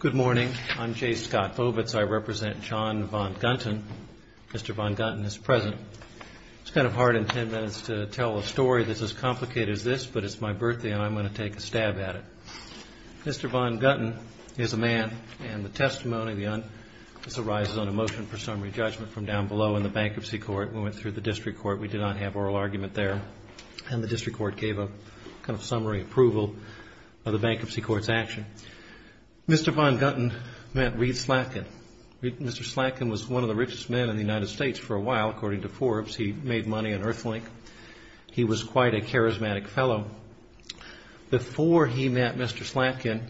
Good morning. I'm Jay Scott Vovitz. I represent John von Gunten. Mr. von Gunten is present. It's kind of hard in 10 minutes to tell a story that's as complicated as this, but it's my birthday and I'm going to take a stab at it. Mr. von Gunten is a man and the testimony on this arises on a motion for summary judgment from down below in the Bankruptcy Court. We went through the District Court. We did not have oral argument there. And the District Court gave a kind of summary approval of the Bankruptcy Court's action. Mr. von Gunten met Reed Slatkin. Mr. Slatkin was one of the richest men in the United States for a while. According to Forbes, he made money on Earthlink. He was quite a charismatic fellow. Before he met Mr. Slatkin,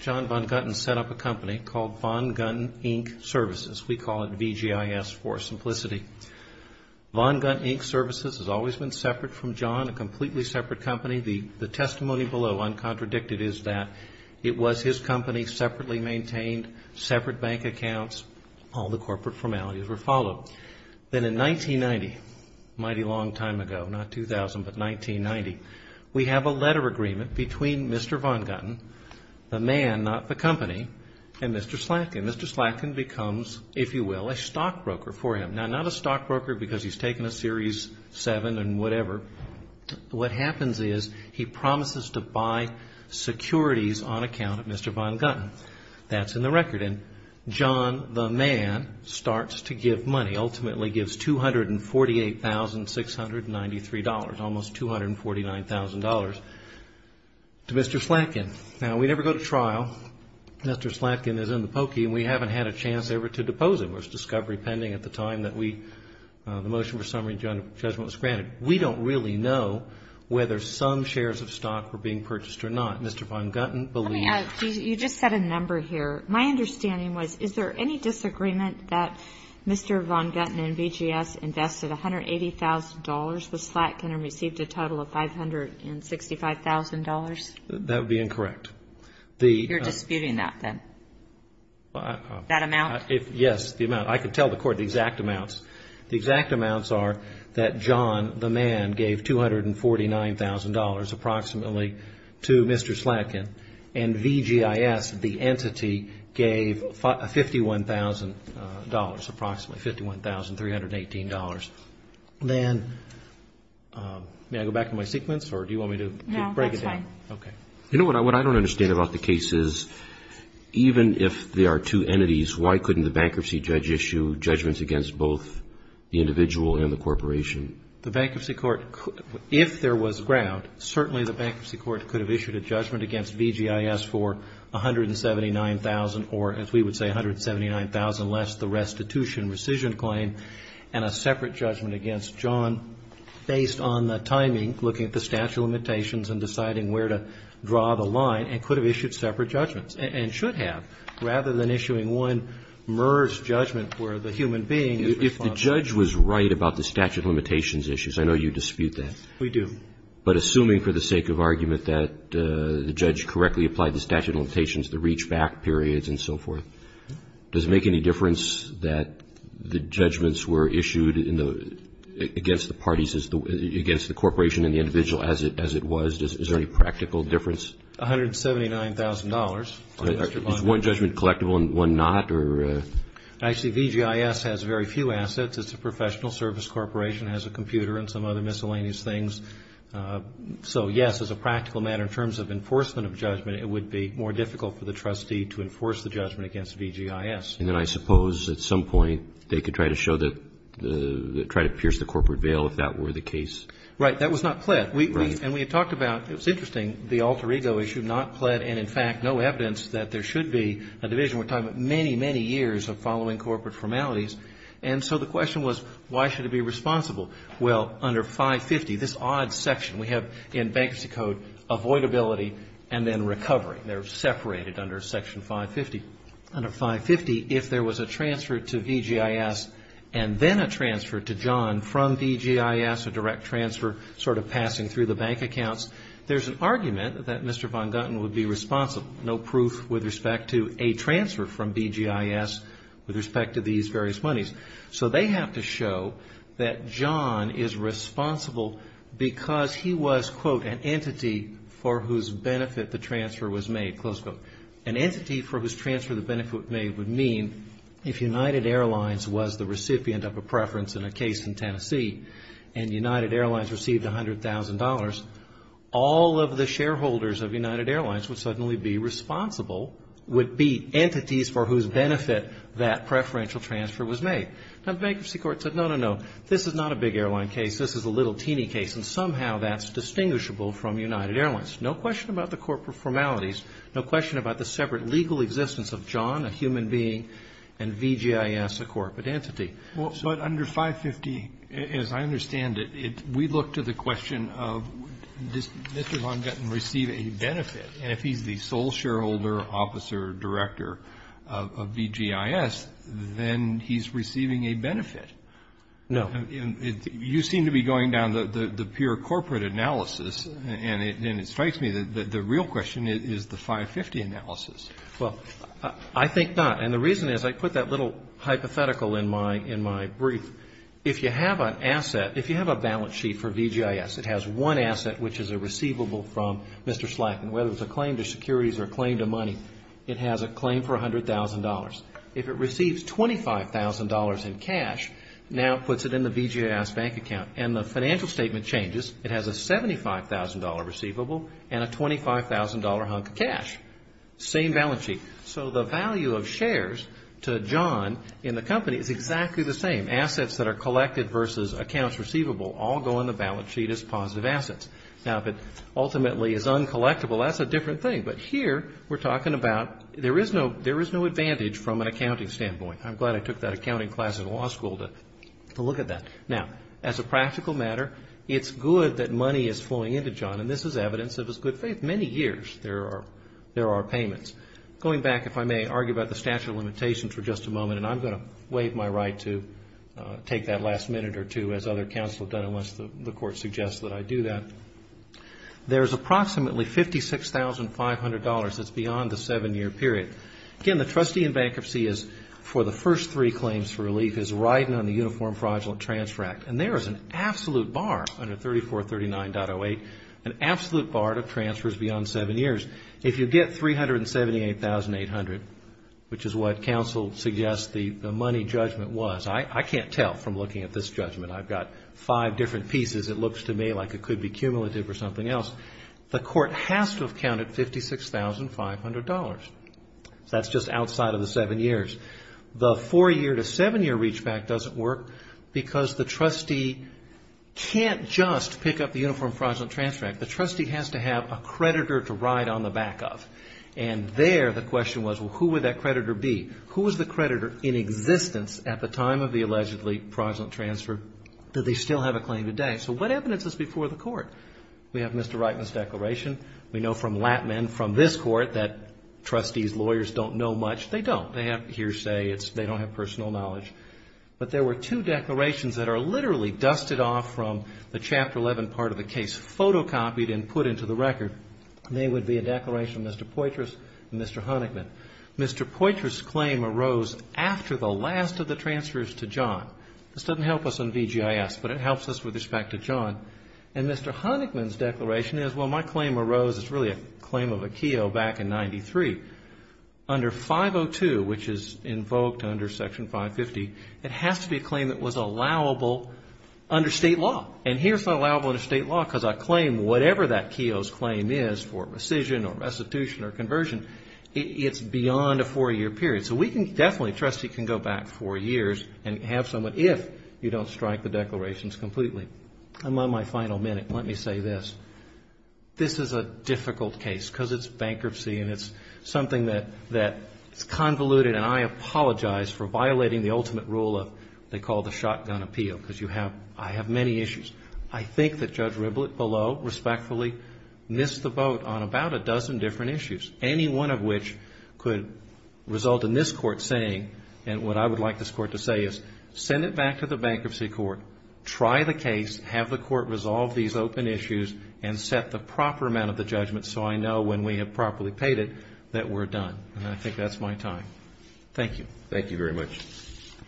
John von Gunten set up a company called Von Gun Ink Services. We call it VGIS for simplicity. Von Gunten Ink Services has always been separate from John, a completely separate company. The testimony below, uncontradicted, is that it was his company, separately maintained, separate bank accounts, all the corporate formalities were followed. Then in 1990, a mighty long time ago, not 2000, but 1990, we have a letter agreement between Mr. von Gunten, the man, not the company, and Mr. Slatkin. Mr. Slatkin becomes, if you will, a stockbroker for him. Now, not a stockbroker because he's taken a Series 7 and whatever. What happens is he promises to buy securities on account of Mr. von Gunten. That's in the record. And John, the man, starts to give money, ultimately gives $248,693, almost $249,000 to Mr. Slatkin. Now, we never go to trial. Mr. Slatkin is in the pokey and we haven't had a chance ever to depose him. There was discovery pending at the time that we, the motion for summary judgment was granted. We don't really know whether some shares of stock were being purchased or not. Mr. von Gunten believed. You just said a number here. My understanding was, is there any disagreement that Mr. von Gunten and VGS invested $180,000, but Slatkin received a total of $565,000? That would be incorrect. You're disputing that then? That amount? Yes, the amount. I can tell the Court the exact amounts. The exact amounts are that John, the man, gave $249,000, approximately, to Mr. Slatkin, and VGIS, the entity, gave $51,000, approximately, $51,318. Then, may I go back to my sequence or do you want me to break it down? No, that's fine. Okay. You know, what I don't understand about the case is, even if there are two entities, why couldn't the bankruptcy judge issue judgments against both the individual and the corporation? The bankruptcy court, if there was ground, certainly the bankruptcy court could have issued a judgment against VGIS for $179,000 or, as we would say, $179,000 less, the restitution, rescission claim, and a separate judgment against John based on the timing, looking at the statute of limitations and deciding where to draw the line, and could have issued separate judgments, and should have, rather than issuing one merged judgment where the human being is responsible. If the judge was right about the statute of limitations issues, I know you dispute that. We do. But assuming for the sake of argument that the judge correctly applied the statute of limitations, the reach-back periods and so forth, does it make any difference that the judgments were issued against the parties, against the corporation and the individual as it was? Is there any practical difference? $179,000. Is one judgment collectible and one not? Actually, VGIS has very few assets. It's a professional service corporation. It has a computer and some other miscellaneous things. So, yes, as a practical matter, in terms of enforcement of judgment, it would be more difficult for the trustee to enforce the judgment against VGIS. And then I suppose at some point they could try to show that, try to pierce the corporate veil if that were the case? Right. That was not pled. And we had talked about, it was interesting, the alter ego issue, not pled and, in fact, no evidence that there should be a division. We're talking about many, many years of following corporate formalities. And so the question was, why should it be responsible? Well, under 550, this odd section we have in Bankruptcy Code, avoidability and then recovery. They're separated under Section 550. Under 550, if there was a transfer to VGIS and then a transfer to John from VGIS, a direct transfer sort of passing through the bank accounts, there's an argument that Mr. Von Gutten would be responsible. No proof with respect to a transfer from VGIS with respect to these various monies. So they have to show that John is responsible because he was, quote, an entity for whose benefit the transfer was made, close quote. An entity for whose transfer the benefit was made would mean if United Airlines was the recipient of a preference in a case in Tennessee and United Airlines received $100,000, all of the shareholders of United Airlines would suddenly be responsible, would be entities for whose benefit that preferential transfer was made. Now, the bankruptcy court said, no, no, no. This is not a big airline case. This is a little teeny case. And somehow that's distinguishable from United Airlines. No question about the corporate formalities. No question about the separate legal existence of John, a human being, and VGIS, a corporate entity. But under 550, as I understand it, we look to the question of does Mr. Von Gutten receive a benefit? And if he's the sole shareholder, officer, director of VGIS, then he's receiving a benefit. No. You seem to be going down the pure corporate analysis. And it strikes me that the real question is the 550 analysis. Well, I think not. And the reason is I put that little hypothetical in my brief. If you have an asset, if you have a balance sheet for VGIS, it has one asset which is a receivable from Mr. Slack. And whether it's a claim to securities or a claim to money, it has a claim for $100,000. If it receives $25,000 in cash, now it puts it in the VGIS bank account. And the financial statement changes. It has a $75,000 receivable and a $25,000 hunk of cash. Same balance sheet. So the value of shares to John in the company is exactly the same. Assets that are collected versus accounts receivable all go in the balance sheet as positive assets. Now, if it ultimately is uncollectable, that's a different thing. But here we're talking about there is no advantage from an accounting standpoint. I'm glad I took that accounting class at law school to look at that. Now, as a practical matter, it's good that money is flowing into John, and this is evidence of his good faith. Many years there are payments. Going back, if I may, argue about the statute of limitations for just a moment, and I'm going to waive my right to take that last minute or two as other counsel have done unless the court suggests that I do that. There's approximately $56,500 that's beyond the seven-year period. Again, the trustee in bankruptcy is, for the first three claims for relief, is riding on the Uniform Fraudulent Transfer Act. And there is an absolute bar under 3439.08, an absolute bar to transfers beyond seven years. If you get $378,800, which is what counsel suggests the money judgment was, I can't tell from looking at this judgment. I've got five different pieces. It looks to me like it could be cumulative or something else. The court has to have counted $56,500. That's just outside of the seven years. The four-year to seven-year reachback doesn't work because the trustee can't just pick up the Uniform Fraudulent Transfer Act. The trustee has to have a creditor to ride on the back of. And there the question was, well, who would that creditor be? Who was the creditor in existence at the time of the allegedly fraudulent transfer? Do they still have a claim today? So what evidence is before the court? We have Mr. Reitman's declaration. We know from Lattman, from this court, that trustees, lawyers don't know much. They don't. They have hearsay. They don't have personal knowledge. But there were two declarations that are literally dusted off from the Chapter 11 part of the case, photocopied and put into the record. They would be a declaration of Mr. Poitras and Mr. Honigman. Mr. Poitras' claim arose after the last of the transfers to John. This doesn't help us on VGIS, but it helps us with respect to John. And Mr. Honigman's declaration is, well, my claim arose, it's really a claim of a KEO back in 93. Under 502, which is invoked under Section 550, it has to be a claim that was allowable under state law. And here it's not allowable under state law because I claim whatever that KEO's claim is for rescission or restitution or conversion. It's beyond a four-year period. So we can definitely, a trustee can go back four years and have someone, if you don't strike the declarations completely. I'm on my final minute. Let me say this. This is a difficult case because it's bankruptcy and it's something that's convoluted, and I apologize for violating the ultimate rule of they call the shotgun appeal because I have many issues. I think that Judge Riblett below respectfully missed the boat on about a dozen different issues, any one of which could result in this Court saying, and what I would like this Court to say is, send it back to the bankruptcy court, try the case, have the court resolve these open issues, and set the proper amount of the judgment so I know when we have properly paid it that we're done. And I think that's my time. Thank you. Thank you very much. Good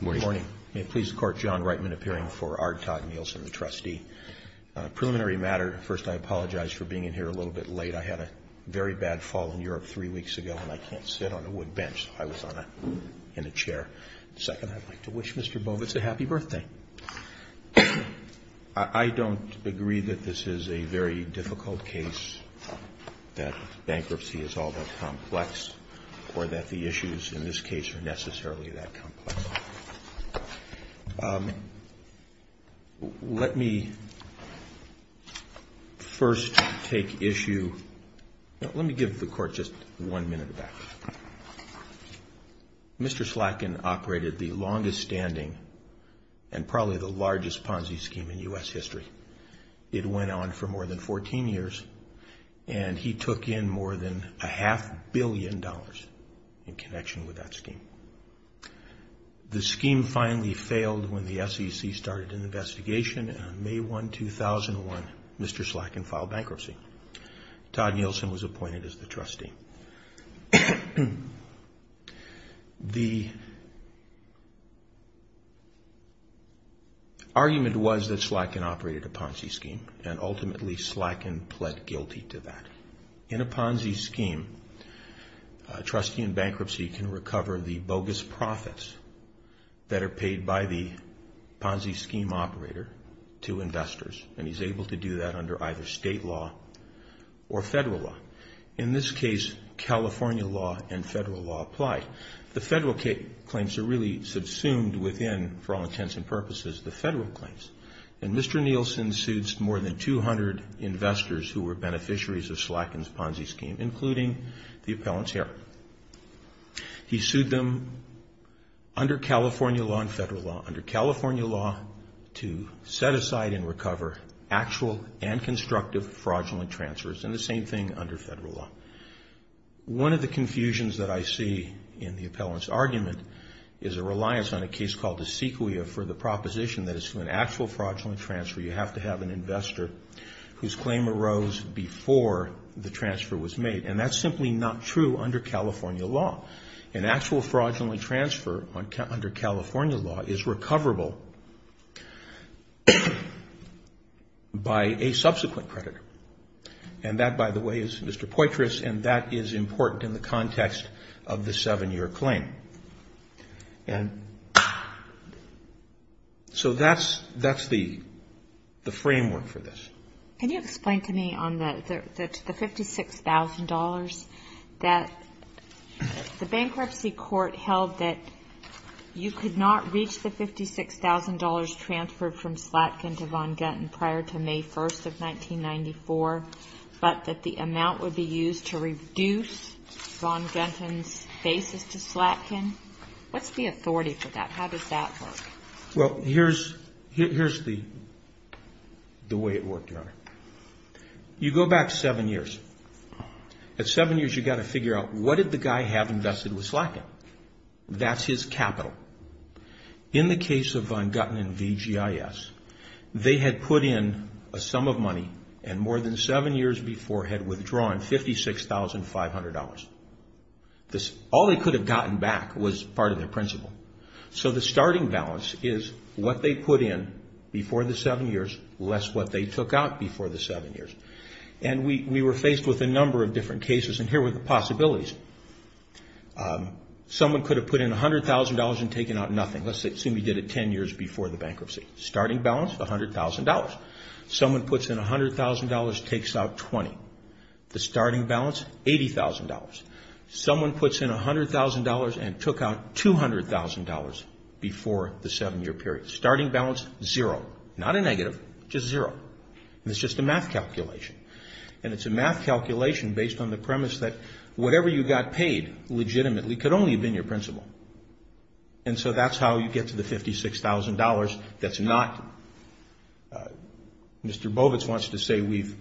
morning. Good morning. May it please the Court, John Reitman appearing for R. Todd Nielsen, the trustee. On a preliminary matter, first, I apologize for being in here a little bit late. I had a very bad fall in Europe three weeks ago, and I can't sit on a wood bench. I was in a chair. Second, I'd like to wish Mr. Bovitz a happy birthday. I don't agree that this is a very difficult case, that bankruptcy is all that complex, or that the issues in this case are necessarily that complex. Let me first take issue. Let me give the Court just one minute of that. Mr. Slatkin operated the longest standing and probably the largest Ponzi scheme in U.S. history. It went on for more than 14 years, and he took in more than a half billion dollars in connection with that scheme. The scheme finally failed when the SEC started an investigation on May 1, 2001. Mr. Slatkin filed bankruptcy. Todd Nielsen was appointed as the trustee. The argument was that Slatkin operated a Ponzi scheme, and ultimately Slatkin pled guilty to that. In a Ponzi scheme, a trustee in bankruptcy can recover the bogus profits that are paid by the Ponzi scheme operator to investors, and he's able to do that under either state law or federal law. In this case, California law and federal law apply. The federal claims are really subsumed within, for all intents and purposes, the federal claims. And Mr. Nielsen sued more than 200 investors who were beneficiaries of Slatkin's Ponzi scheme, including the appellant's heir. He sued them under California law and federal law. Under California law to set aside and recover actual and constructive fraudulent transfers, and the same thing under federal law. One of the confusions that I see in the appellant's argument is a reliance on a case called the sequoia for the proposition that it's an actual fraudulent transfer. You have to have an investor whose claim arose before the transfer was made, and that's simply not true under California law. An actual fraudulent transfer under California law is recoverable by a subsequent creditor. And that, by the way, is Mr. Poitras, and that is important in the context of the seven-year claim. And so that's the framework for this. Can you explain to me on the $56,000 that the bankruptcy court held that you could not reach the $56,000 transferred from Slatkin to Von Gutten prior to May 1st of 1994, but that the amount would be used to reduce Von Gutten's basis to Slatkin? What's the authority for that? How does that work? Well, here's the way it worked, Your Honor. You go back seven years. At seven years, you've got to figure out what did the guy have invested with Slatkin? That's his capital. In the case of Von Gutten and VGIS, they had put in a sum of money and more than seven years before had withdrawn $56,500. All they could have gotten back was part of their principal. So the starting balance is what they put in before the seven years less what they took out before the seven years. And we were faced with a number of different cases, and here were the possibilities. Someone could have put in $100,000 and taken out nothing. Let's assume you did it ten years before the bankruptcy. Starting balance, $100,000. Someone puts in $100,000, takes out $20,000. The starting balance, $80,000. Someone puts in $100,000 and took out $200,000 before the seven-year period. Starting balance, zero. Not a negative, just zero. It's just a math calculation. And it's a math calculation based on the premise that whatever you got paid legitimately could only have been your principal. And so that's how you get to the $56,000 that's not. Mr. Bovitz wants to say we've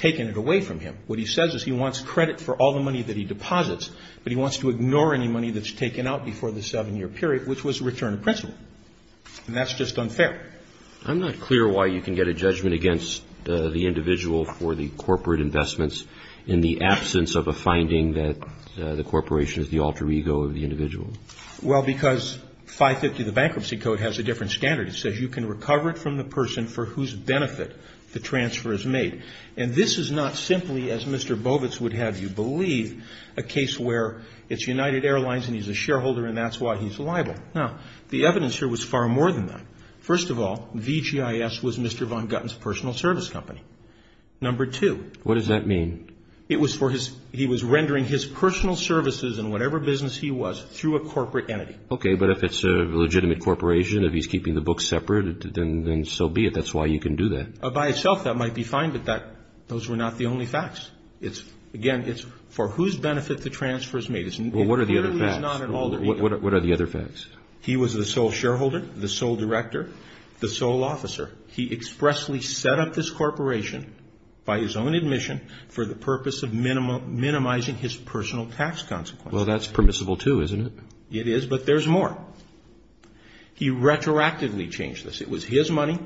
taken it away from him. What he says is he wants credit for all the money that he deposits, but he wants to ignore any money that's taken out before the seven-year period, which was return of principal. And that's just unfair. I'm not clear why you can get a judgment against the individual for the corporate investments in the absence of a finding that the corporation is the alter ego of the individual. Well, because 550 of the Bankruptcy Code has a different standard. It says you can recover it from the person for whose benefit the transfer is made. And this is not simply, as Mr. Bovitz would have you believe, a case where it's United Airlines and he's a shareholder and that's why he's liable. Now, the evidence here was far more than that. First of all, VGIS was Mr. Von Gutten's personal service company. Number two. What does that mean? It was for his – he was rendering his personal services in whatever business he was through a corporate entity. Okay, but if it's a legitimate corporation, if he's keeping the books separate, then so be it. That's why you can do that. By itself, that might be fine, but those were not the only facts. Again, it's for whose benefit the transfer is made. Well, what are the other facts? What are the other facts? He was the sole shareholder, the sole director, the sole officer. He expressly set up this corporation by his own admission for the purpose of minimizing his personal tax consequences. Well, that's permissible too, isn't it? It is, but there's more. He retroactively changed this. It was his money.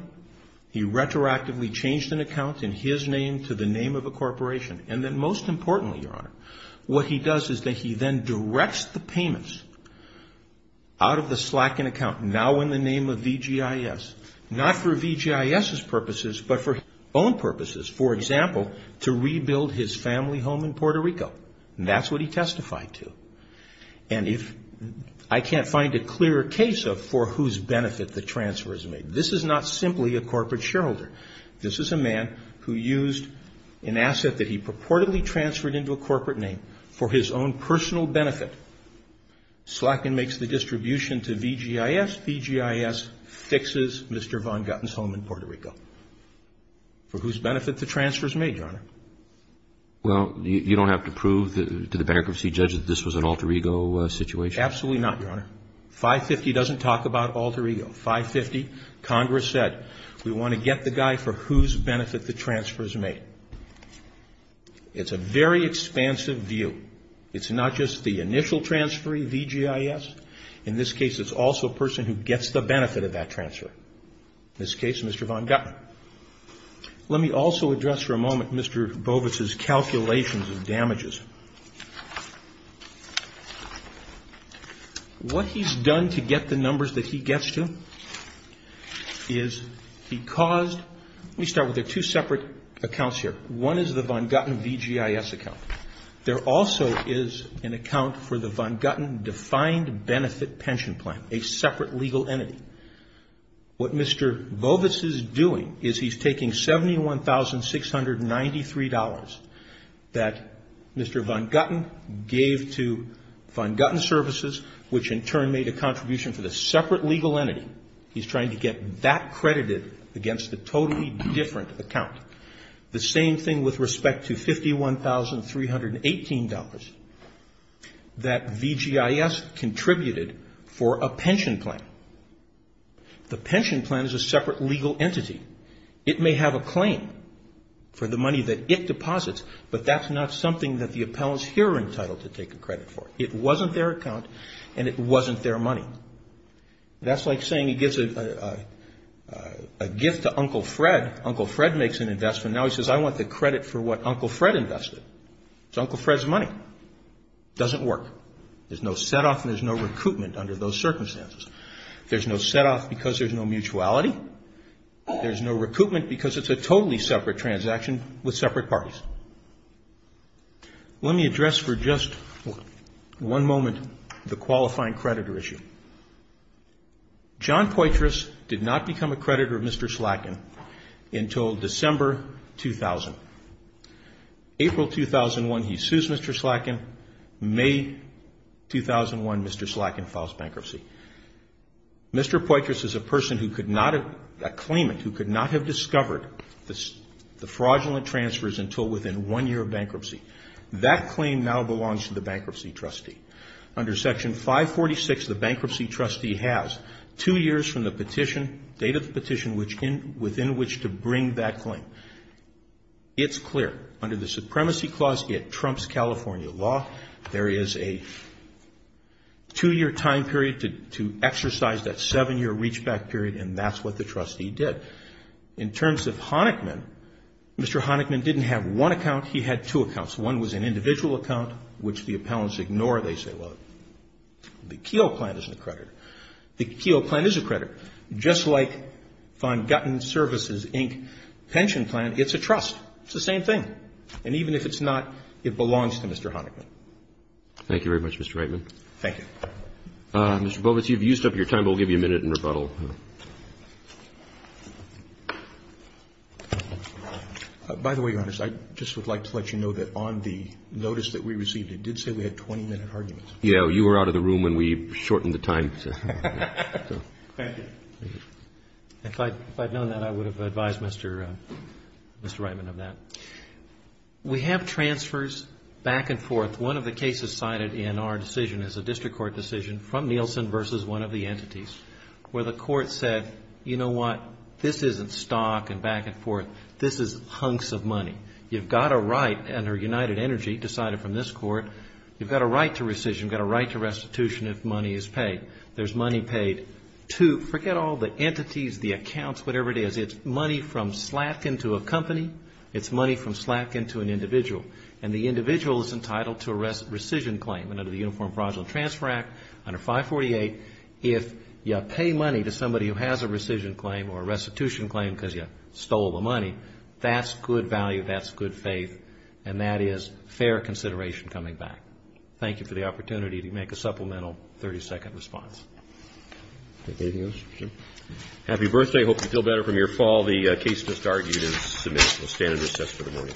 He retroactively changed an account in his name to the name of a corporation. And then most importantly, Your Honor, what he does is that he then directs the payments out of the slack in account now in the name of VGIS. Not for VGIS's purposes, but for his own purposes. For example, to rebuild his family home in Puerto Rico. And that's what he testified to. And if – I can't find a clearer case of for whose benefit the transfer is made. This is not simply a corporate shareholder. This is a man who used an asset that he purportedly transferred into a corporate name for his own personal benefit. Slack in makes the distribution to VGIS. VGIS fixes Mr. Von Gotten's home in Puerto Rico. For whose benefit the transfer is made, Your Honor? Well, you don't have to prove to the bankruptcy judge that this was an alter ego situation? Absolutely not, Your Honor. 550 doesn't talk about alter ego. 550, Congress said, we want to get the guy for whose benefit the transfer is made. It's a very expansive view. It's not just the initial transferee, VGIS. In this case, it's also a person who gets the benefit of that transfer. In this case, Mr. Von Gotten. Let me also address for a moment Mr. Bovitz's calculations of damages. What he's done to get the numbers that he gets to is he caused, let me start with two separate accounts here. One is the Von Gotten VGIS account. There also is an account for the Von Gotten Defined Benefit Pension Plan, a separate legal entity. What Mr. Bovitz is doing is he's taking $71,693 that Mr. Von Gotten gave to Von Gotten Services, which in turn made a contribution to the separate legal entity. He's trying to get that credited against a totally different account. The same thing with respect to $51,318 that VGIS contributed for a pension plan. The pension plan is a separate legal entity. It may have a claim for the money that it deposits, but that's not something that the appellants here are entitled to take a credit for. It wasn't their account, and it wasn't their money. That's like saying he gives a gift to Uncle Fred. Uncle Fred makes an investment. Now he says, I want the credit for what Uncle Fred invested. It's Uncle Fred's money. It doesn't work. There's no set-off and there's no recoupment under those circumstances. There's no set-off because there's no mutuality. There's no recoupment because it's a totally separate transaction with separate parties. Let me address for just one moment the qualifying creditor issue. John Poitras did not become a creditor of Mr. Slacken until December 2000. April 2001, he sues Mr. Slacken. May 2001, Mr. Slacken files bankruptcy. Mr. Poitras is a person who could not have, a claimant, who could not have discovered the fraudulent transfers until within one year of bankruptcy. That claim now belongs to the bankruptcy trustee. Under Section 546, the bankruptcy trustee has two years from the petition, date of the petition within which to bring that claim. It's clear. Under the Supremacy Clause, it trumps California law. There is a two-year time period to exercise that seven-year reachback period, and that's what the trustee did. In terms of Honickman, Mr. Honickman didn't have one account. He had two accounts. One was an individual account, which the appellants ignore. They say, well, the Keogh plan isn't a creditor. The Keogh plan is a creditor. Just like Von Gutten Services, Inc. pension plan, it's a trust. It's the same thing. And even if it's not, it belongs to Mr. Honickman. Thank you very much, Mr. Reitman. Thank you. Mr. Bovitz, you've used up your time, but we'll give you a minute in rebuttal. By the way, Your Honors, I just would like to let you know that on the notice that we received, it did say we had 20-minute arguments. Yes. You were out of the room when we shortened the time. Thank you. If I had known that, I would have advised Mr. Reitman of that. We have transfers back and forth. One of the cases cited in our decision is a district court decision from Nielsen versus one of the entities where the court said, you know what, this isn't stock and back and forth. This is hunks of money. You've got a right under United Energy, decided from this court, you've got a right to rescission. You've got a right to restitution if money is paid. There's money paid to forget all the entities, the accounts, whatever it is. It's money from Slatkin to a company. It's money from Slatkin to an individual. And the individual is entitled to a rescission claim. Under the Uniform Fraudulent Transfer Act, under 548, if you pay money to somebody who has a rescission claim or a restitution claim because you stole the money, that's good value, that's good faith, and that is fair consideration coming back. Thank you for the opportunity to make a supplemental 30-second response. Anything else? Happy birthday. Hope you feel better from your fall. The case just argued is submitted. We'll stand and recess for the morning.